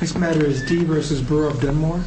This matter is D v. Brewer v. Dunmore.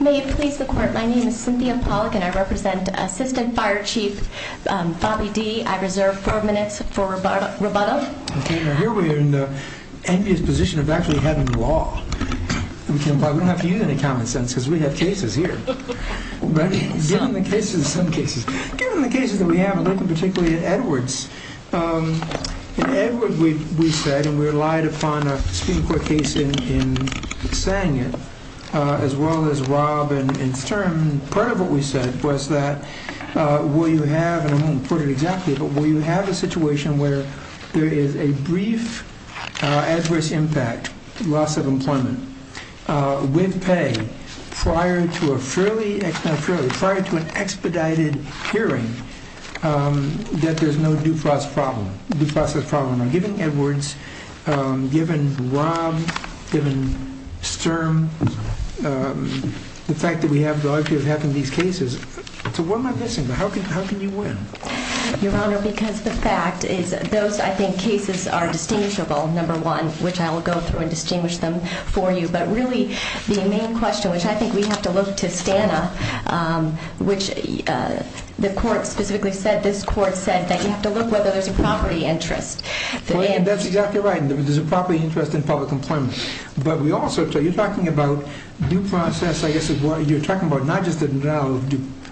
May it please the court, my name is Cynthia Pollack and I represent Assistant Fire Chief Bobby D. I reserve four minutes for rebuttal. Okay, now here we are in the envious position of actually having law. We don't have to use any common sense because we have cases here. Given the cases that we have, I'm looking particularly at Edwards. In Edwards we said, and we relied upon a Supreme Court case in saying it, as well as Robb and Stern. Part of what we said was that will you have, and I won't quote it exactly, but will you have a situation where there is a brief adverse impact, loss of employment, with pay, prior to an expedited hearing, that there's no due process problem. Now given Edwards, given Robb, given Stern, the fact that we have the luxury of having these cases, so what am I missing? How can you win? Your Honor, because the fact is those, I think, cases are distinguishable, number one, which I will go through and distinguish them for you. But really the main question, which I think we have to look to Stana, which the court specifically said, this court said, that you have to look whether there's a property interest. That's exactly right. There's a property interest in public employment. But we also, you're talking about due process, I guess, you're talking about not just the denial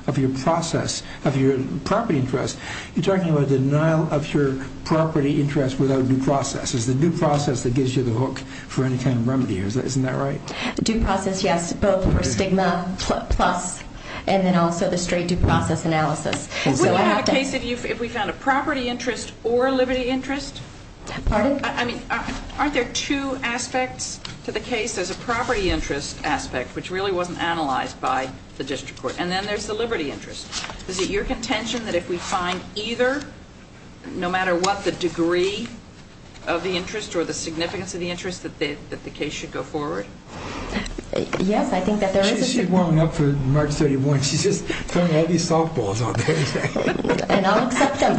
of your process, of your property interest, you're talking about the denial of your property interest without due process. It's the due process that gives you the hook for any kind of remedy. Isn't that right? Due process, yes, both for stigma plus, and then also the straight due process analysis. Would we have a case if we found a property interest or a liberty interest? Pardon? I mean, aren't there two aspects to the case? There's a property interest aspect, which really wasn't analyzed by the district court, and then there's the liberty interest. Is it your contention that if we find either, no matter what the degree of the interest or the significance of the interest, that the case should go forward? Yes, I think that there is a degree. She's warming up for March 31. She's just throwing all these softballs out there. And I'll accept them.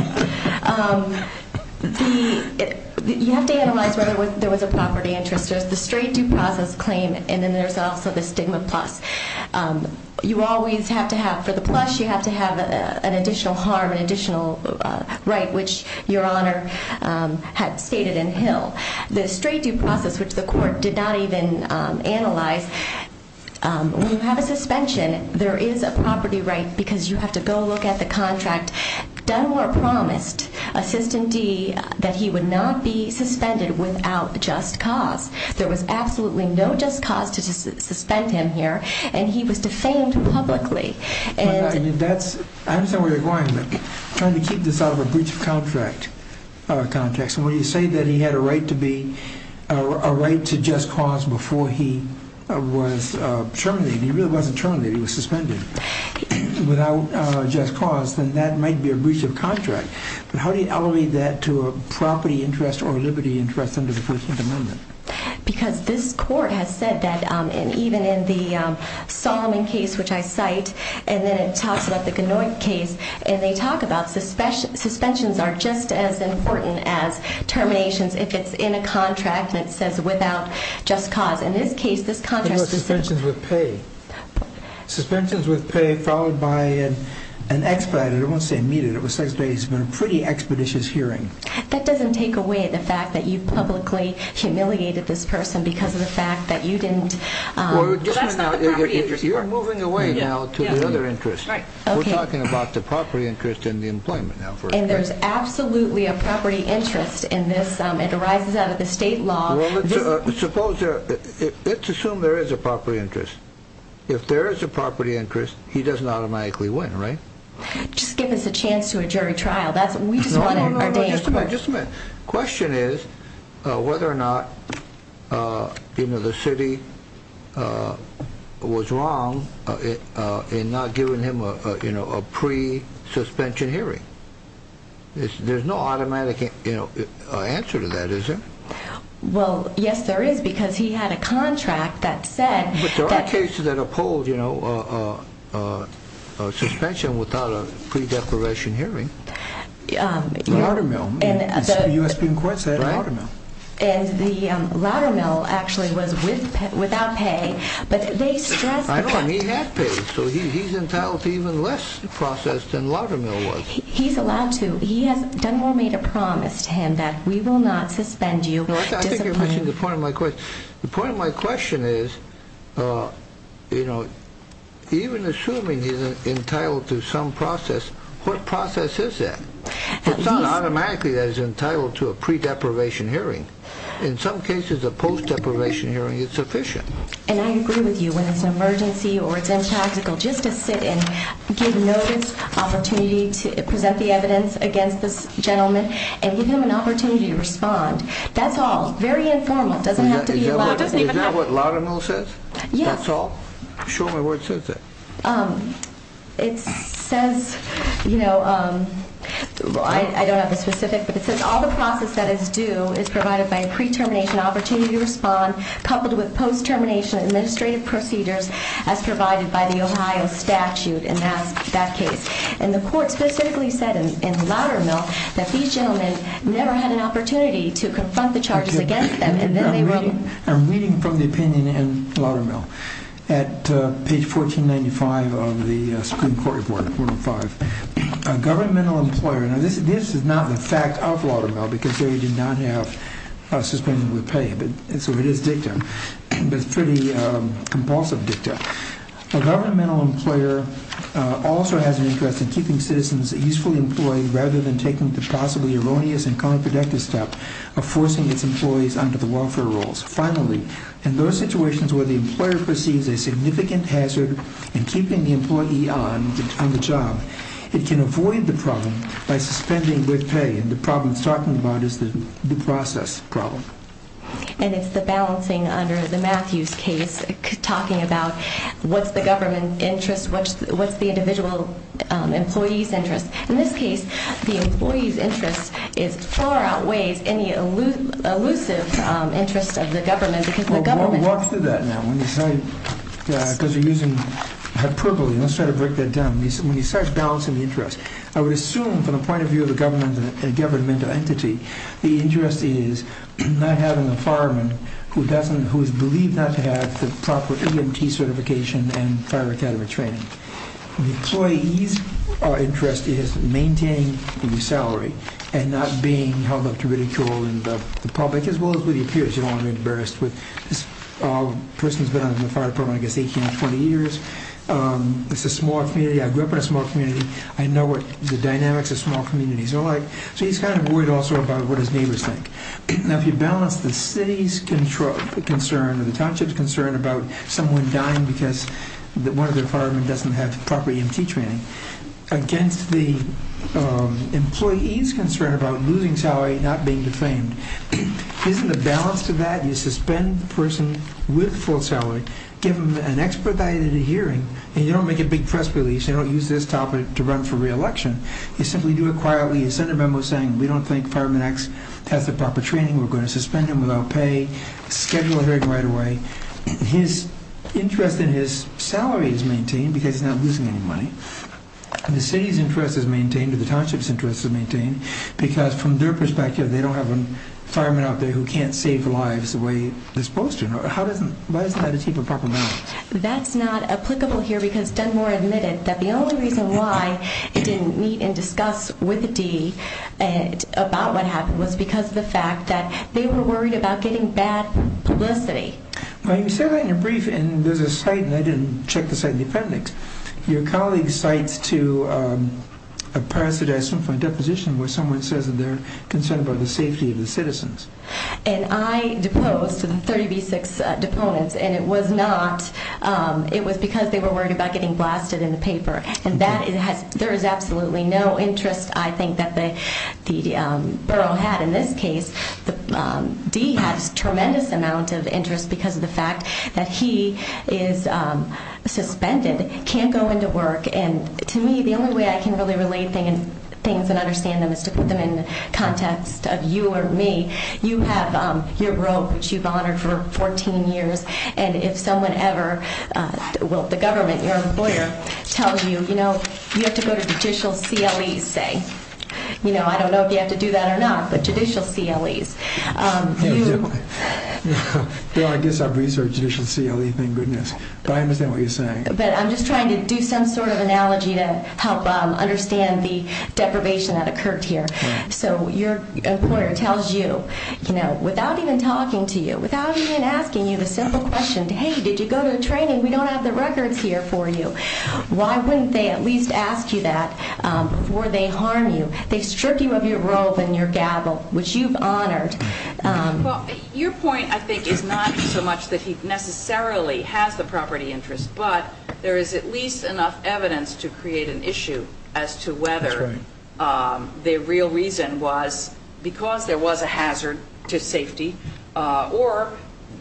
You have to analyze whether there was a property interest. There's the straight due process claim, and then there's also the stigma plus. You always have to have, for the plus, you have to have an additional harm, an additional right, which Your Honor had stated in Hill. The straight due process, which the court did not even analyze, when you have a suspension, there is a property right because you have to go look at the contract. Dunmore promised Assistant D that he would not be suspended without just cause. There was absolutely no just cause to suspend him here, and he was defamed publicly. I understand where you're going, but I'm trying to keep this out of a breach of contract context. When you say that he had a right to just cause before he was terminated, he really wasn't terminated, he was suspended, without just cause, then that might be a breach of contract. But how do you elevate that to a property interest or a liberty interest under the First Amendment? Because this court has said that, and even in the Solomon case, which I cite, and then it talks about the Ganoit case, and they talk about suspensions are just as important as terminations if it's in a contract and it says without just cause. It was suspensions with pay. Suspensions with pay followed by an expedited, I won't say immediate, it was expedited. It's been a pretty expeditious hearing. That doesn't take away the fact that you publicly humiliated this person because of the fact that you didn't... That's not the property interest part. You're moving away now to the other interest. We're talking about the property interest and the employment now. And there's absolutely a property interest in this. It arises out of the state law. Well, let's assume there is a property interest. If there is a property interest, he doesn't automatically win, right? Just give us a chance to a jury trial. No, no, no, just a minute. The question is whether or not the city was wrong in not giving him a pre-suspension hearing. There's no automatic answer to that, is there? Well, yes, there is because he had a contract that said... But there are cases that uphold, you know, a suspension without a pre-declaration hearing. Loudermill. The U.S. Supreme Court said Loudermill. And the Loudermill actually was without pay, but they stressed... I know, and he had pay, so he's entitled to even less process than Loudermill was. He's allowed to. He has...Dunmore made a promise to him that we will not suspend you. I think you're missing the point of my question. The point of my question is, you know, even assuming he's entitled to some process, what process is that? It's not automatically that he's entitled to a pre-deprivation hearing. In some cases, a post-deprivation hearing is sufficient. And I agree with you when it's an emergency or it's impractical just to sit and give notice, opportunity to present the evidence against this gentleman, and give him an opportunity to respond. That's all. Very informal. It doesn't have to be loud. Is that what Loudermill says? Yes. That's all? Show me where it says that. It says, you know, I don't have a specific, but it says, all the process that is due is provided by a pre-termination opportunity to respond, coupled with post-termination administrative procedures as provided by the Ohio statute in that case. And the court specifically said in Loudermill that these gentlemen never had an opportunity to confront the charges against them. I'm reading from the opinion in Loudermill at page 1495 of the Supreme Court report, 405. A governmental employer, now this is not the fact of Loudermill, because there you do not have suspension with pay, so it is dicta, but it's pretty compulsive dicta. A governmental employer also has an interest in keeping citizens usefully employed, rather than taking the possibly erroneous and counterproductive step of forcing its employees under the welfare rules. Finally, in those situations where the employer perceives a significant hazard in keeping the employee on the job, it can avoid the problem by suspending with pay, and the problem it's talking about is the process problem. And it's the balancing under the Matthews case, talking about what's the government interest, what's the individual employee's interest. In this case, the employee's interest far outweighs any elusive interest of the government. Well, we'll walk through that now, because you're using hyperbole. Let's try to break that down. When he says balancing the interest, I would assume from the point of view of a governmental entity, the interest is not having a fireman who is believed not to have the proper EMT certification and fire academy training. The employee's interest is maintaining the salary and not being held up to ridicule in the public as well as with your peers. You don't want to be embarrassed with this person who's been in the fire department, I guess, 18 or 20 years. It's a small community. I grew up in a small community. I know what the dynamics of small communities are like. So he's kind of worried also about what his neighbors think. Now, if you balance the city's concern or the township's concern about someone dying because one of their firemen doesn't have proper EMT training against the employee's concern about losing salary and not being defamed, isn't the balance to that you suspend the person with full salary, give them an expedited hearing, and you don't make a big press release, you don't use this topic to run for reelection, you simply do it quietly, a Senate memo saying we don't think fireman X has the proper training, we're going to suspend him without pay, schedule a hearing right away. His interest in his salary is maintained because he's not losing any money. The city's interest is maintained or the township's interest is maintained because from their perspective they don't have a fireman out there who can't save lives the way they're supposed to. Why isn't that a cheaper proper balance? That's not applicable here because Dunmore admitted that the only reason why it didn't meet and discuss with Dee about what happened was because of the fact that they were worried about getting bad publicity. Well, you said that in your brief and there's a site and I didn't check the site in the appendix. Your colleague cites to a parasitized swim point deposition where someone says that they're concerned about the safety of the citizens. And I deposed to the 30B6 deponents and it was not, it was because they were worried about getting blasted in the paper. And that has, there is absolutely no interest I think that the borough had in this case. Dee has tremendous amount of interest because of the fact that he is suspended, can't go into work, and to me the only way I can really relate things and understand them is to put them in the context of you or me. You have your robe which you've honored for 14 years and if someone ever, well the government, your employer, tells you, you know, you have to go to judicial CLEs say. You know, I don't know if you have to do that or not, but judicial CLEs. Well, I guess I've researched judicial CLEs, thank goodness, but I understand what you're saying. But I'm just trying to do some sort of analogy to help understand the deprivation that occurred here. So your employer tells you, you know, without even talking to you, without even asking you the simple question, hey, did you go to training? We don't have the records here for you. Why wouldn't they at least ask you that before they harm you? They strip you of your robe and your gavel, which you've honored. Well, your point I think is not so much that he necessarily has the property interest, but there is at least enough evidence to create an issue as to whether the real reason was because there was a hazard to safety or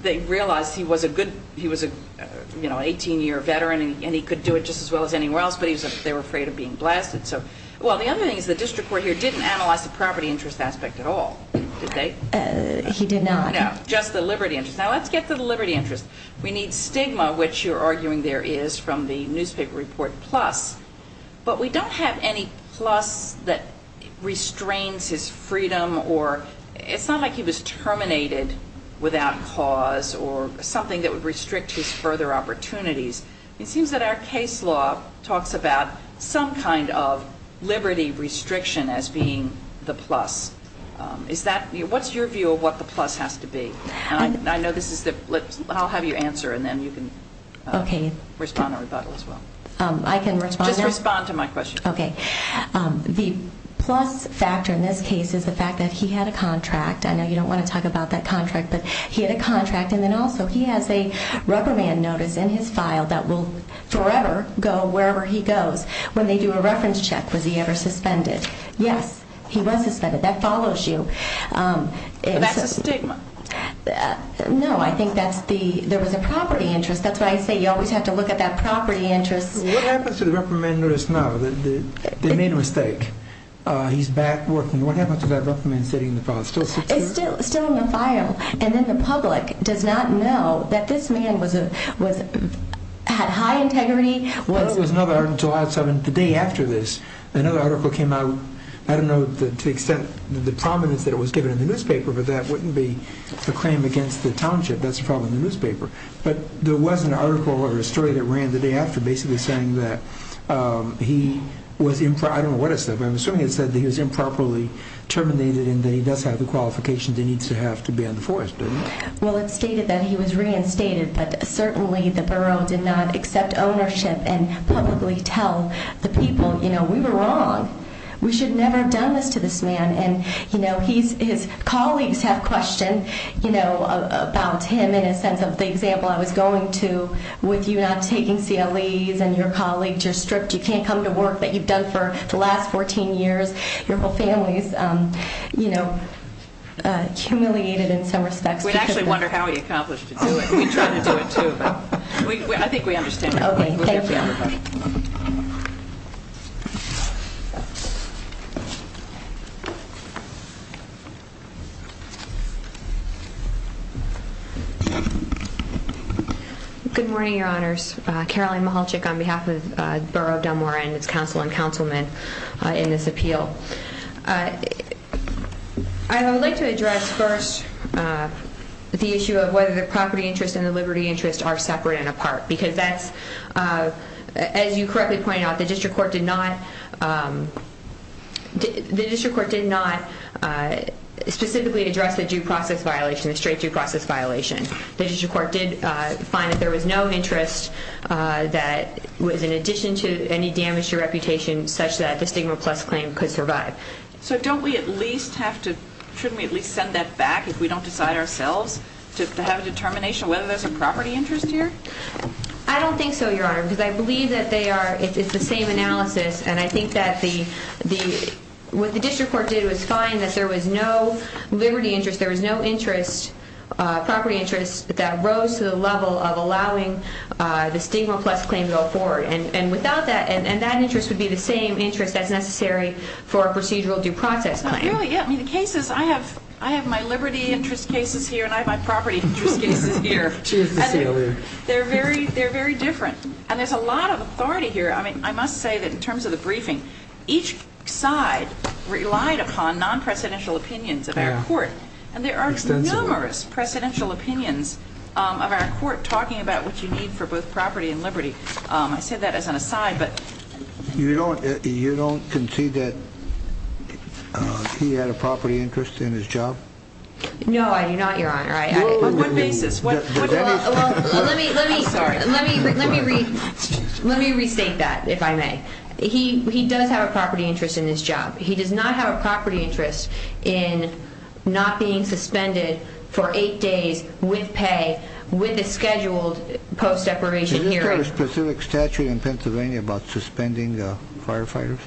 they realized he was an 18-year veteran and he could do it just as well as anyone else, but they were afraid of being blasted. Well, the other thing is the district court here didn't analyze the property interest aspect at all, did they? He did not. No, just the liberty interest. Now, let's get to the liberty interest. We need stigma, which you're arguing there is from the newspaper report plus, but we don't have any plus that restrains his freedom or it's not like he was terminated without cause or something that would restrict his further opportunities. It seems that our case law talks about some kind of liberty restriction as being the plus. What's your view of what the plus has to be? I'll have you answer and then you can respond in rebuttal as well. Just respond to my question. Okay. The plus factor in this case is the fact that he had a contract. I know you don't want to talk about that contract, but he had a contract, and then also he has a Rubberman notice in his file that will forever go wherever he goes. When they do a reference check, was he ever suspended? Yes, he was suspended. That follows you. But that's a stigma. No, I think there was a property interest. That's why I say you always have to look at that property interest. What happens to the Rubberman notice now? They made a mistake. He's back working. What happens to that Rubberman sitting in the file? It's still in the file, and then the public does not know that this man had high integrity. Well, there was another article on July 7th. The day after this, another article came out. I don't know to the extent of the prominence that it was given in the newspaper, but that wouldn't be a claim against the township. That's a problem in the newspaper. But there was an article or a story that ran the day after basically saying that he was improper. I don't know what it said, but I'm assuming it said that he was improperly terminated and that he does have the qualifications he needs to have to be in the forest, didn't it? Well, it stated that he was reinstated, but certainly the borough did not accept ownership and publicly tell the people, you know, we were wrong. We should never have done this to this man. And, you know, his colleagues have questioned, you know, about him in a sense of the example I was going to with you not taking CLEs and your colleagues. You're stripped. You can't come to work that you've done for the last 14 years. Your whole family is, you know, humiliated in some respects. We actually wonder how he accomplished to do it. We try to do it too, but I think we understand. Okay, thank you. Good morning, Your Honors. Caroline Mahalchik on behalf of the Borough of Dunmore and its council and councilmen in this appeal. I would like to address first the issue of whether the property interest and the liberty interest are separate and apart, because that's, as you correctly pointed out, the district court did not, the district court did not specifically address the due process violation, the straight due process violation. The district court did find that there was no interest that was in addition to any damage to reputation such that the stigma plus claim could survive. So don't we at least have to, shouldn't we at least send that back if we don't decide ourselves to have a determination whether there's a property interest here? I don't think so, Your Honor, because I believe that they are, it's the same analysis, and I think that the, what the district court did was find that there was no liberty interest, there was no interest, property interest, that rose to the level of allowing the stigma plus claim to go forward. And without that, and that interest would be the same interest as necessary for a procedural due process. Really, yeah, I mean the cases, I have my liberty interest cases here and I have my property interest cases here. They're very different. And there's a lot of authority here. I mean, I must say that in terms of the briefing, each side relied upon non-presidential opinions of our court, and there are numerous presidential opinions of our court talking about what you need for both property and liberty. I say that as an aside, but... You don't concede that he had a property interest in his job? No, I do not, Your Honor. On what basis? Well, let me restate that, if I may. He does have a property interest in his job. He does not have a property interest in not being suspended for eight days with pay, with a scheduled post-separation hearing. Isn't there a specific statute in Pennsylvania about suspending firefighters?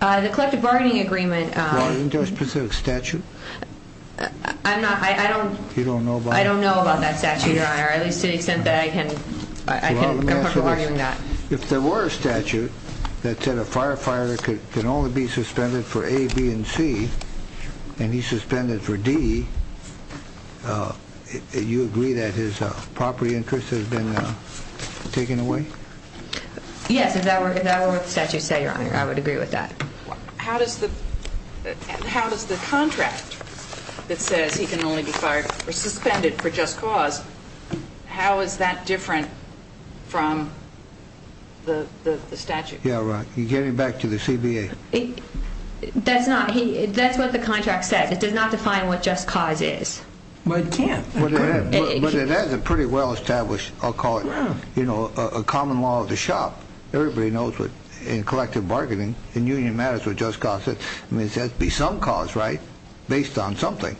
The collective bargaining agreement... Well, isn't there a specific statute? I don't know about that statute, Your Honor, at least to the extent that I'm comfortable arguing that. If there were a statute that said a firefighter can only be suspended for A, B, and C and he's suspended for D, you agree that his property interest has been taken away? Yes, if that were what the statute said, Your Honor, I would agree with that. How does the contract that says he can only be fired or suspended for just cause, how is that different from the statute? Yeah, right. You're getting back to the CBA. That's what the contract says. It does not define what just cause is. Well, it can't. But it is a pretty well-established, I'll call it, you know, a common law of the shop. Everybody knows that in collective bargaining, in union matters, what just cause is. I mean, there has to be some cause, right, based on something.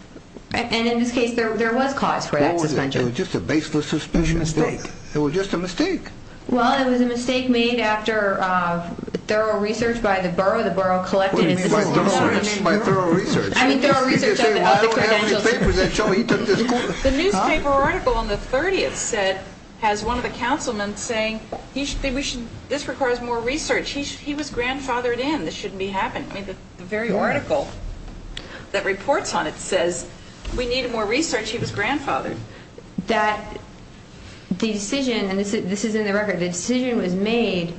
And in this case, there was cause for that suspension. It was just a baseless suspicion. It was a mistake. It was just a mistake. Well, it was a mistake made after thorough research by the borough. The borough collected... By thorough research. By thorough research. I mean, thorough research of the credentials... You can say, well, I don't have any papers that show he took this... The newspaper article on the 30th said, has one of the councilmen saying, this requires more research. He was grandfathered in. This shouldn't be happening. I mean, the very article that reports on it says, we need more research. He was grandfathered. That decision, and this is in the record, the decision was made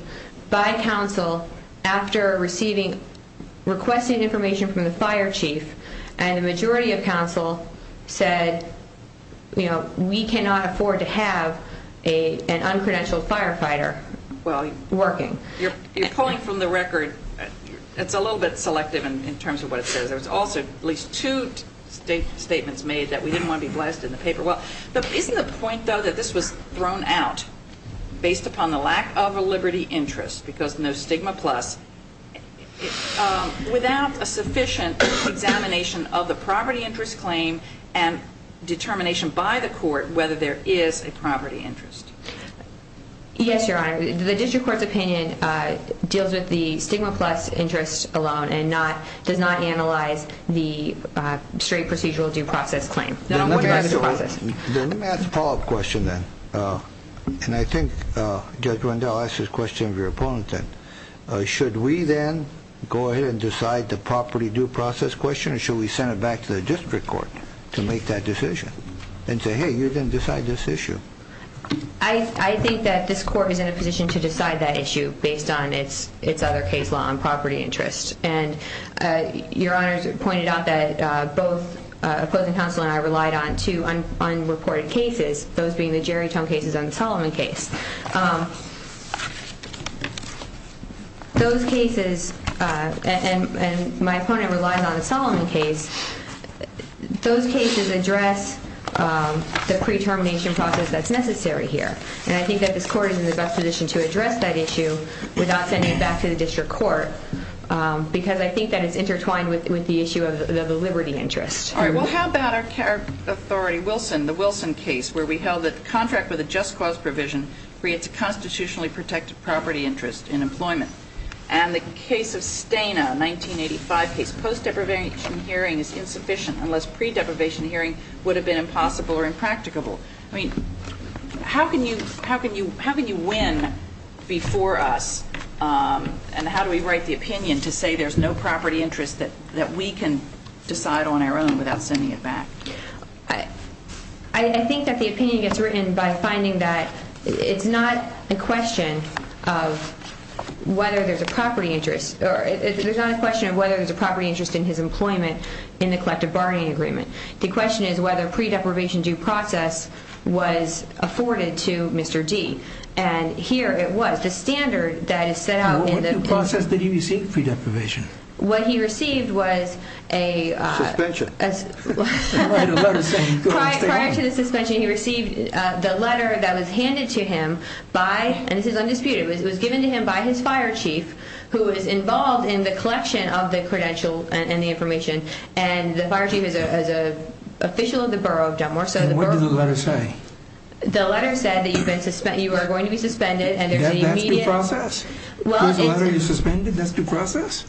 by council after receiving, requesting information from the fire chief. And the majority of council said, you know, we cannot afford to have an uncredentialed firefighter working. You're pulling from the record. It's a little bit selective in terms of what it says. There was also at least two statements made that we didn't want to be blasted in the paper. But isn't the point, though, that this was thrown out based upon the lack of a liberty interest, because no stigma plus, without a sufficient examination of the property interest claim and determination by the court whether there is a property interest? Yes, Your Honor. The district court's opinion deals with the stigma plus interest alone and does not analyze the straight procedural due process claim. Let me ask a follow-up question then. And I think Judge Rundell asked this question of your opponent then. Should we then go ahead and decide the property due process question or should we send it back to the district court to make that decision and say, hey, you didn't decide this issue? I think that this court is in a position to decide that issue based on its other case law on property interest. And Your Honor pointed out that both opposing counsel and I relied on two unreported cases, those being the Jerry Tong cases and the Solomon case. Those cases, and my opponent relies on the Solomon case, those cases address the pre-termination process that's necessary here. And I think that this court is in the best position to address that issue without sending it back to the district court because I think that it's intertwined with the issue of the liberty interest. All right. Well, how about our authority, Wilson, the Wilson case, where we held that the contract with a just cause provision creates a constitutionally protected property interest in employment. And the case of Stana, a 1985 case, post-deprivation hearing is insufficient unless pre-deprivation hearing would have been impossible or impracticable. I mean, how can you win before us and how do we write the opinion to say there's no property interest that we can decide on our own without sending it back? I think that the opinion gets written by finding that it's not a question of whether there's a property interest. There's not a question of whether there's a property interest in his employment in the collective bargaining agreement. The question is whether pre-deprivation due process was afforded to Mr. D. And here it was, the standard that is set out in the process. What due process did he receive pre-deprivation? What he received was a... Suspension. Prior to the suspension he received the letter that was handed to him by, and this is undisputed, it was given to him by his fire chief who was involved in the collection of the credential and the information. And the fire chief is an official of the borough of Delmore. And what did the letter say? The letter said that you are going to be suspended and there's an immediate... That's due process?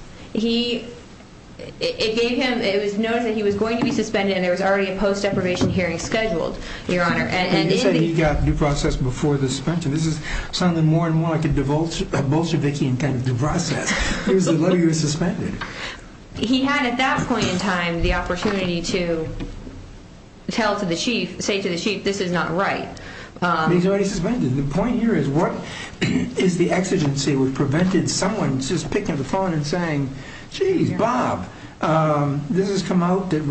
It gave him, it was noted that he was going to be suspended and there was already a post-deprivation hearing scheduled, Your Honor. And you said he got due process before the suspension. This is sounding more and more like a Bolshevikian kind of due process. Here's the letter, you're suspended. He had at that point in time the opportunity to tell to the chief, say to the chief, this is not right. He's already suspended. The point here is what is the exigency? It was prevented someone just picking up the phone and saying, geez, Bob, this has come out. It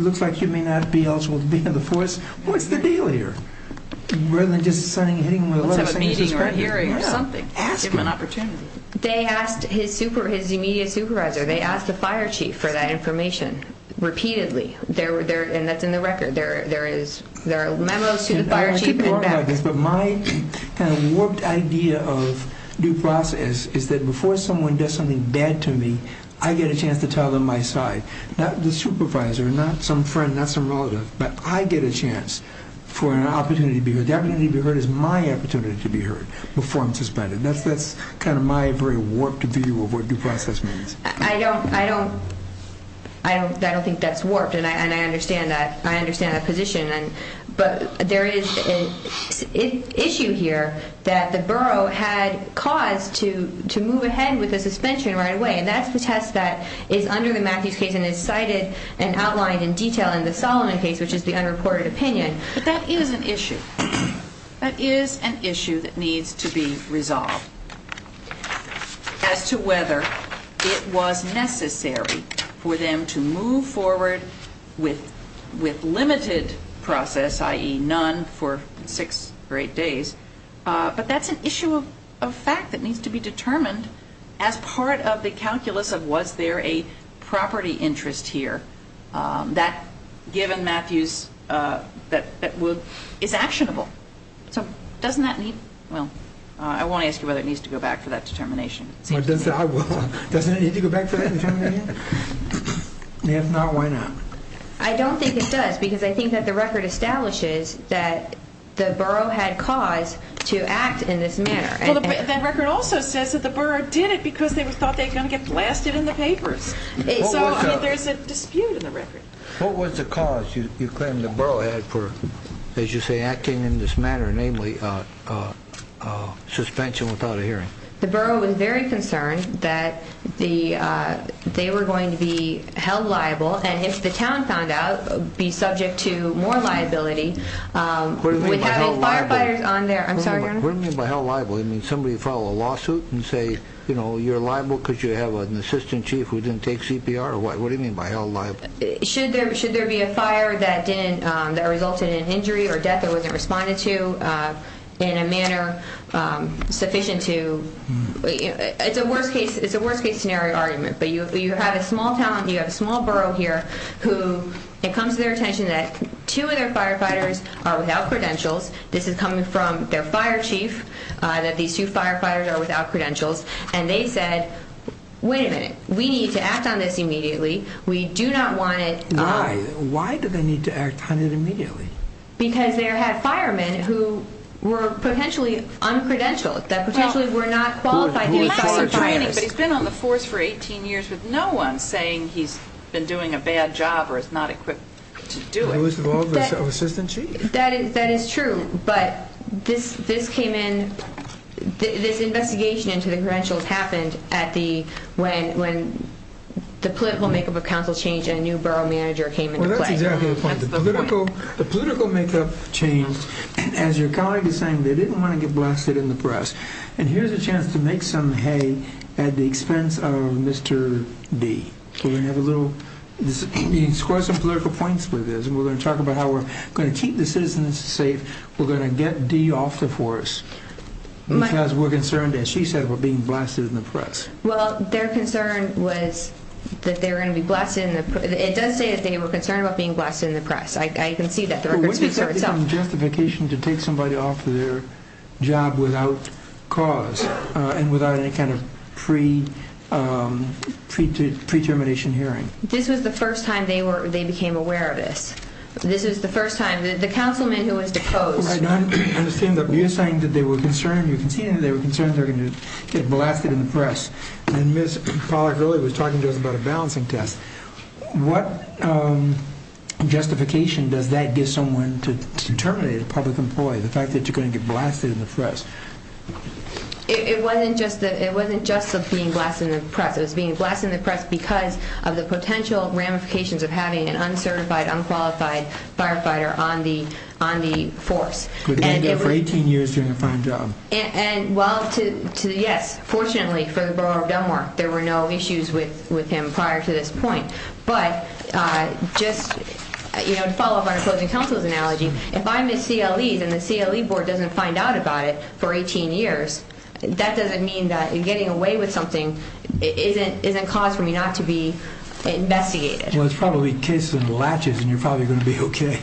looks like you may not be eligible to be in the force. What's the deal here? Rather than just hitting him with a letter saying he's suspended. Let's have a meeting or a hearing or something. Ask him. Give him an opportunity. They asked his immediate supervisor, they asked the fire chief for that information repeatedly. And that's in the record. There are memos to the fire chief. My warped idea of due process is that before someone does something bad to me, I get a chance to tell them my side. Not the supervisor, not some friend, not some relative, but I get a chance for an opportunity to be heard. The opportunity to be heard is my opportunity to be heard before I'm suspended. That's kind of my very warped view of what due process means. I don't think that's warped, and I understand that position. But there is an issue here that the borough had caused to move ahead with the suspension right away. And that's the test that is under the Matthews case and is cited and outlined in detail in the Solomon case, which is the unreported opinion. But that is an issue. That is an issue that needs to be resolved as to whether it was necessary for them to move forward with limited process, i.e. none, for six or eight days. But that's an issue of fact that needs to be determined as part of the calculus of was there a property interest here that, given Matthews, is actionable. So doesn't that need, well, I won't ask you whether it needs to go back for that determination. I will. Doesn't it need to go back for that determination? If not, why not? I don't think it does because I think that the record establishes that the borough had cause to act in this manner. That record also says that the borough did it because they thought they were going to get blasted in the papers. So there's a dispute in the record. What was the cause you claim the borough had for, as you say, acting in this manner, namely suspension without a hearing? The borough was very concerned that they were going to be held liable and, if the town found out, be subject to more liability. What do you mean by held liable? I'm sorry, Your Honor. What do you mean by held liable? You mean somebody filed a lawsuit and say, you know, you're liable because you have an assistant chief who didn't take CPR? What do you mean by held liable? Should there be a fire that resulted in injury or death that wasn't responded to in a manner sufficient to... It's a worst-case scenario argument, but you have a small town, you have a small borough here who it comes to their attention that two of their firefighters are without credentials. This is coming from their fire chief, that these two firefighters are without credentials. And they said, wait a minute, we need to act on this immediately. We do not want it... Why? Why do they need to act on it immediately? Because they had firemen who were potentially uncredentialed, that potentially were not qualified to be firefighters. He's been on the force for 18 years with no one saying he's been doing a bad job or is not equipped to do it. He was involved with an assistant chief. That is true, but this came in, this investigation into the credentials happened when the political makeup of council changed and a new borough manager came into play. Well, that's exactly the point. The political makeup changed as your colleague is saying they didn't want to get blasted in the press. And here's a chance to make some hay at the expense of Mr. D. We're going to have a little... You can score some political points with this. We're going to talk about how we're going to keep the citizens safe. We're going to get D. off the force because we're concerned, as she said, we're being blasted in the press. Well, their concern was that they were going to be blasted in the... It does say that they were concerned about being blasted in the press. I can see that. The record speaks for itself. What is the justification to take somebody off their job without cause and without any kind of pre-termination hearing? This was the first time they became aware of this. This was the first time. The councilman who was deposed... I understand that you're saying that they were concerned. You can see that they were concerned they were going to get blasted in the press. And Ms. Pollack earlier was talking to us about a balancing test. What justification does that give someone to terminate a public employee, the fact that you're going to get blasted in the press? It wasn't just being blasted in the press. It was being blasted in the press because of the potential ramifications of having an uncertified, unqualified firefighter on the force. For 18 years doing a fine job. Well, yes, fortunately for the Borough of Dunmore, there were no issues with him prior to this point. But just to follow up on opposing counsel's analogy, if I'm a CLE and the CLE board doesn't find out about it for 18 years, that doesn't mean that getting away with something isn't cause for me not to be investigated. Well, it's probably kiss and latches and you're probably going to be okay.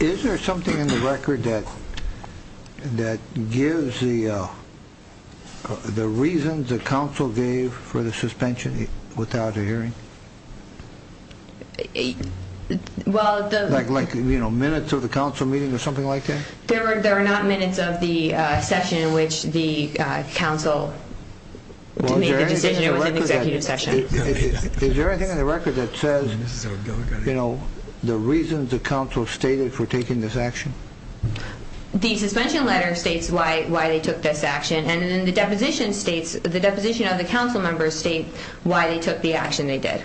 Is there something in the record that gives the reasons the council gave for the suspension without a hearing? Well, the... Like minutes of the council meeting or something like that? There are not minutes of the session in which the council made the decision. It was an executive session. Is there anything in the record that says, you know, the reasons the council stated for taking this action? The suspension letter states why they took this action. And then the deposition states, the deposition of the council members state why they took the action they did.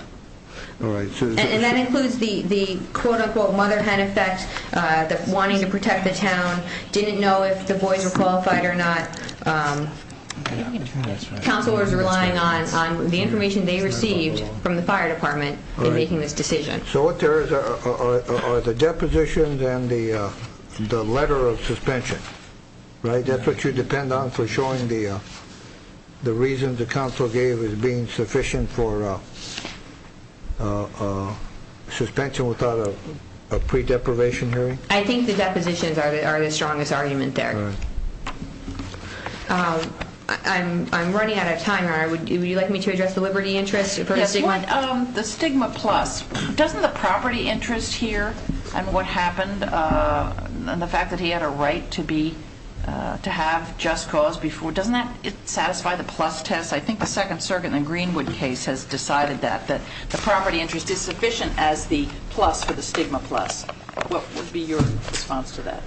And that includes the quote-unquote mother hen effect, the wanting to protect the town, didn't know if the boys were qualified or not. Counselors relying on the information they received from the fire department in making this decision. So what there is are the depositions and the letter of suspension, right? Is that what you depend on for showing the reasons the council gave as being sufficient for suspension without a pre-deprivation hearing? I think the depositions are the strongest argument there. I'm running out of time. Would you like me to address the liberty interest? The stigma plus. Doesn't the property interest here and what happened and the fact that he had a right to have just cause before, doesn't that satisfy the plus test? I think the Second Circuit in the Greenwood case has decided that, that the property interest is sufficient as the plus for the stigma plus. What would be your response to that?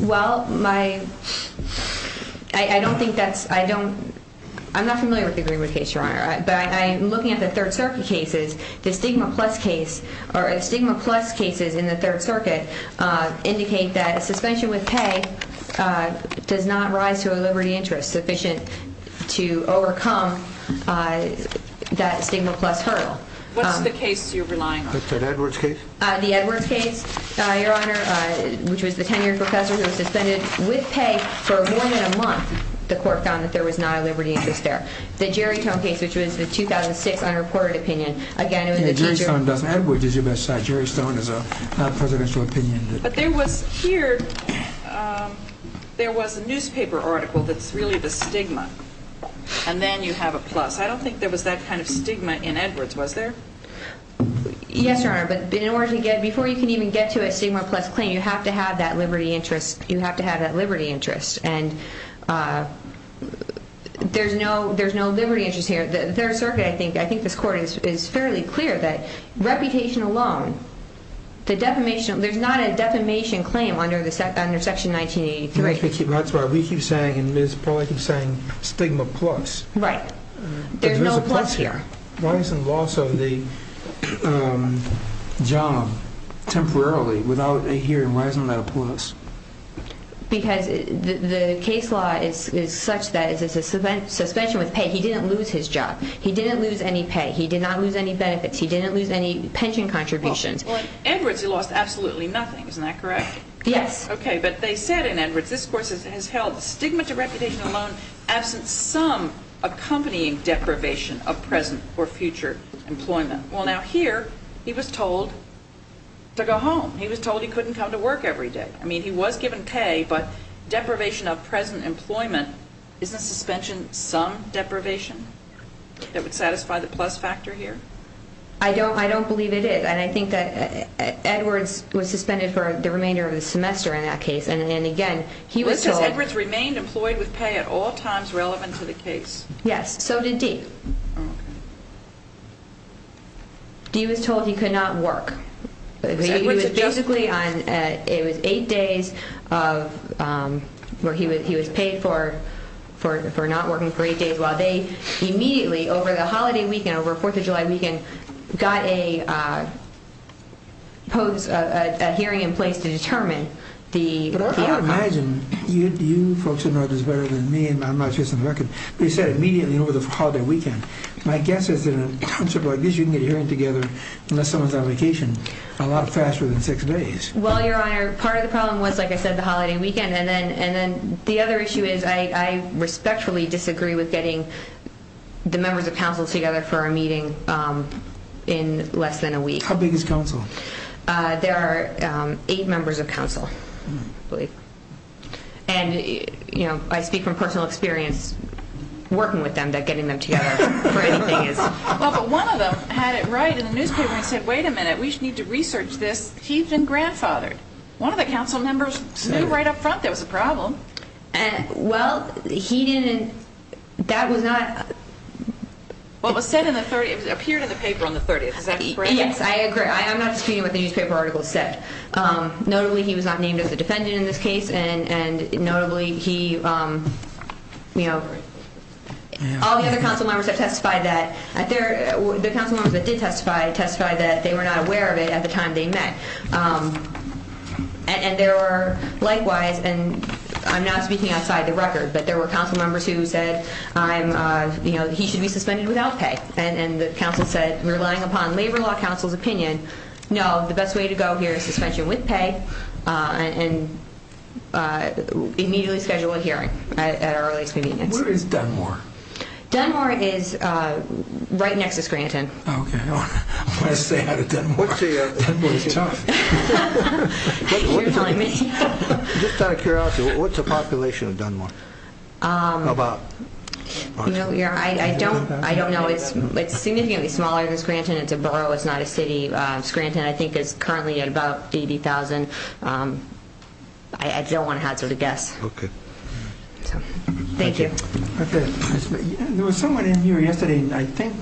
Well, I don't think that's, I don't, I'm not familiar with the Greenwood case, Your Honor. But I'm looking at the Third Circuit cases. The stigma plus case or stigma plus cases in the Third Circuit indicate that a suspension with pay does not rise to a liberty interest sufficient to overcome that stigma plus hurdle. What's the case you're relying on? The Edwards case? The Edwards case, Your Honor, which was the 10-year professor who was suspended with pay for more than a month. The court found that there was not a liberty interest there. The Jerry Stone case, which was the 2006 unreported opinion, again, it was a teacher. Jerry Stone doesn't, Edwards is your best side. Jerry Stone is a presidential opinion. But there was here, there was a newspaper article that's really the stigma. And then you have a plus. I don't think there was that kind of stigma in Edwards, was there? Yes, Your Honor. But in order to get, before you can even get to a stigma plus claim, you have to have that liberty interest. You have to have that liberty interest. And there's no, there's no liberty interest here. The Third Circuit, I think, I think this court is fairly clear that reputation alone, the defamation, there's not a defamation claim under Section 1983. That's why we keep saying, and Ms. Pollack keeps saying stigma plus. Right. There's no plus here. Why isn't the loss of the job temporarily without a hearing? Why isn't that a plus? Because the case law is such that it's a suspension with pay. He didn't lose his job. He didn't lose any pay. He did not lose any benefits. He didn't lose any pension contributions. Well, in Edwards he lost absolutely nothing, isn't that correct? Yes. Okay, but they said in Edwards, this court has held stigma to reputation alone absent some accompanying deprivation of present or future employment. Well, now here he was told to go home. He was told he couldn't come to work every day. I mean, he was given pay, but deprivation of present employment, isn't suspension some deprivation that would satisfy the plus factor here? I don't believe it is. And I think that Edwards was suspended for the remainder of the semester in that case. And again, he was told. But Edwards remained employed with pay at all times relevant to the case. Yes, so did Dee. Dee was told he could not work. He was paid for not working for eight days while they immediately, over the holiday weekend, over Fourth of July weekend, got a hearing in place to determine the outcome. But I would imagine you folks would know this better than me, and I'm not chasing the record. But he said immediately over the holiday weekend. My guess is in a concept like this you can get a hearing together unless someone's on vacation a lot faster than six days. Well, Your Honor, part of the problem was, like I said, the holiday weekend. And then the other issue is I respectfully disagree with getting the members of council together for a meeting in less than a week. How big is council? There are eight members of council, I believe. And, you know, I speak from personal experience working with them that getting them together for anything is. Well, but one of them had it right in the newspaper and said, wait a minute, we need to research this. He's been grandfathered. One of the council members knew right up front there was a problem. Well, he didn't. That was not. What was said in the 30, it appeared in the paper on the 30th. Yes, I agree. I'm not disputing what the newspaper article said. Notably, he was not named as a defendant in this case. And notably, he, you know, all the other council members have testified that. The council members that did testify testified that they were not aware of it at the time they met. And there were likewise. And I'm not speaking outside the record, but there were council members who said, you know, he should be suspended without pay. And the council said, relying upon Labor Law Council's opinion, no, the best way to go here is suspension with pay. And immediately schedule a hearing at our earliest meeting. Where is Dunmore? Dunmore is right next to Scranton. Okay. I want to say how to Dunmore. Dunmore is tough. You're telling me. Just out of curiosity, what's the population of Dunmore? About? I don't know. It's significantly smaller than Scranton. It's a borough. It's not a city. Scranton, I think, is currently at about 80,000. I don't want to hazard a guess. Okay. Thank you. There was someone in here yesterday, I think,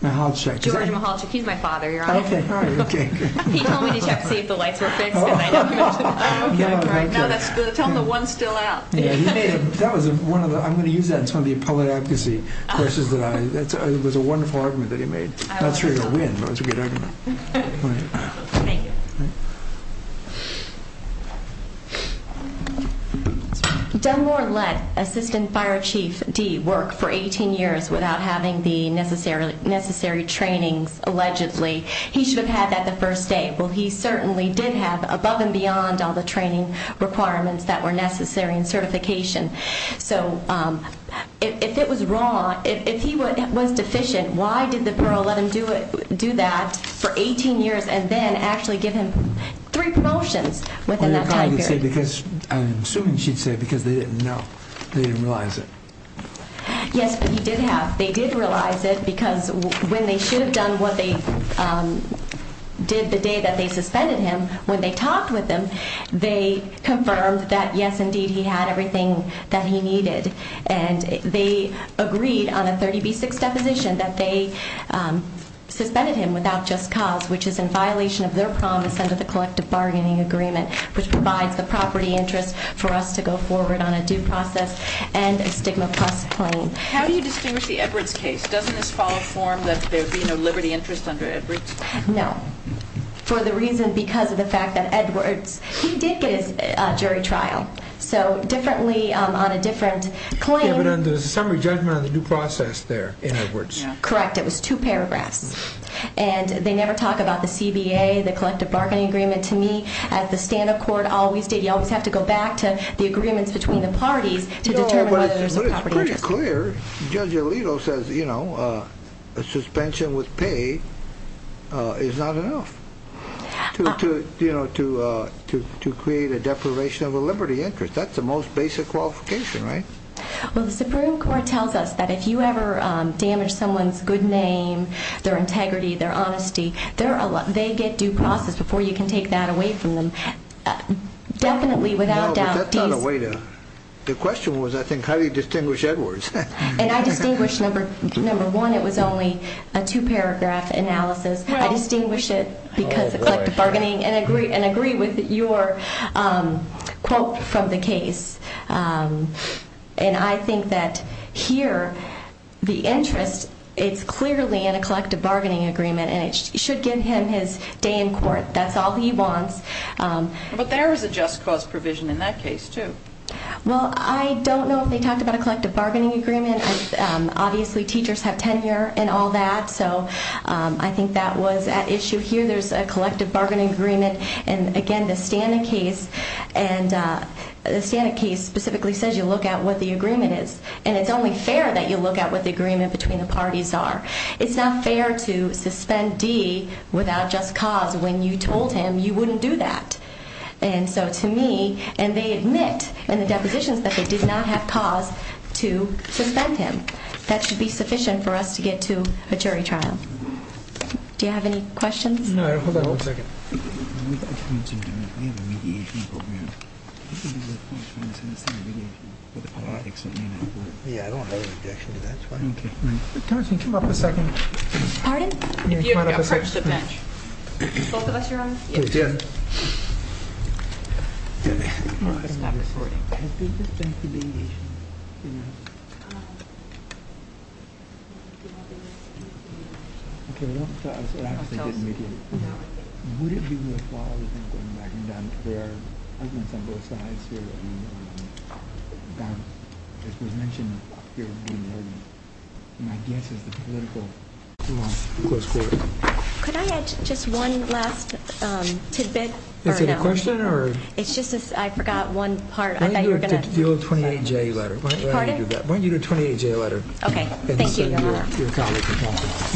Mahalchik. George Mahalchik. He's my father, Your Honor. Okay. He told me to check to see if the lights were fixed. Tell him the one's still out. I'm going to use that in some of the public advocacy courses. It was a wonderful argument that he made. Not sure it would win, but it was a good argument. Thank you. Okay. Dunmore let Assistant Fire Chief D work for 18 years without having the necessary trainings, allegedly. He should have had that the first day. Well, he certainly did have above and beyond all the training requirements that were necessary and certification. So if it was wrong, if he was deficient, why did the borough let him do that for 18 years and then actually give him three promotions within that time period? I'm assuming she'd say because they didn't know. They didn't realize it. Yes, he did have. They did realize it because when they should have done what they did the day that they suspended him, when they talked with him, they confirmed that, yes, indeed, he had everything that he needed. And they agreed on a 30B6 deposition that they suspended him without just cause, which is in violation of their promise under the collective bargaining agreement, which provides the property interest for us to go forward on a due process and a stigma plus claim. How do you distinguish the Edwards case? Doesn't this follow form that there be no liberty interest under Edwards? No. For the reason because of the fact that Edwards, he did get his jury trial. So differently on a different claim. Yeah, but there's a summary judgment on the due process there in Edwards. Correct. It was two paragraphs. And they never talk about the CBA, the collective bargaining agreement. To me, as the stand of court always did, you always have to go back to the agreements between the parties to determine whether there's a property interest. To be clear, Judge Alito says, you know, a suspension with pay is not enough to create a deprivation of a liberty interest. That's the most basic qualification, right? Well, the Supreme Court tells us that if you ever damage someone's good name, their integrity, their honesty, they get due process before you can take that away from them. Definitely, without doubt. The question was, I think, how do you distinguish Edwards? And I distinguish, number one, it was only a two-paragraph analysis. I distinguish it because of collective bargaining and agree with your quote from the case. And I think that here, the interest, it's clearly in a collective bargaining agreement, and it should give him his day in court. That's all he wants. But there is a just cause provision in that case, too. Well, I don't know if they talked about a collective bargaining agreement. Obviously, teachers have tenure and all that, so I think that was at issue here. There's a collective bargaining agreement. And, again, the Stana case specifically says you look at what the agreement is, and it's only fair that you look at what the agreement between the parties are. It's not fair to suspend D without just cause when you told him you wouldn't do that. And so to me, and they admit in the depositions that they did not have cause to suspend him. That should be sufficient for us to get to a jury trial. Do you have any questions? No, hold on one second. We have a mediation program. Yeah, I don't have an objection to that. Okay. Congressman, can you come up for a second? Pardon? Can you come up for a second? Both of us are on? Yes. Okay. Let's stop this wording. Has business been to mediation? No. Okay. No. Could I add just one last tidbit? Is it a question or? It's just I forgot one part. Why don't you do a 28-J letter? Pardon? Why don't you do a 28-J letter? Okay. Thank you, Your Honor.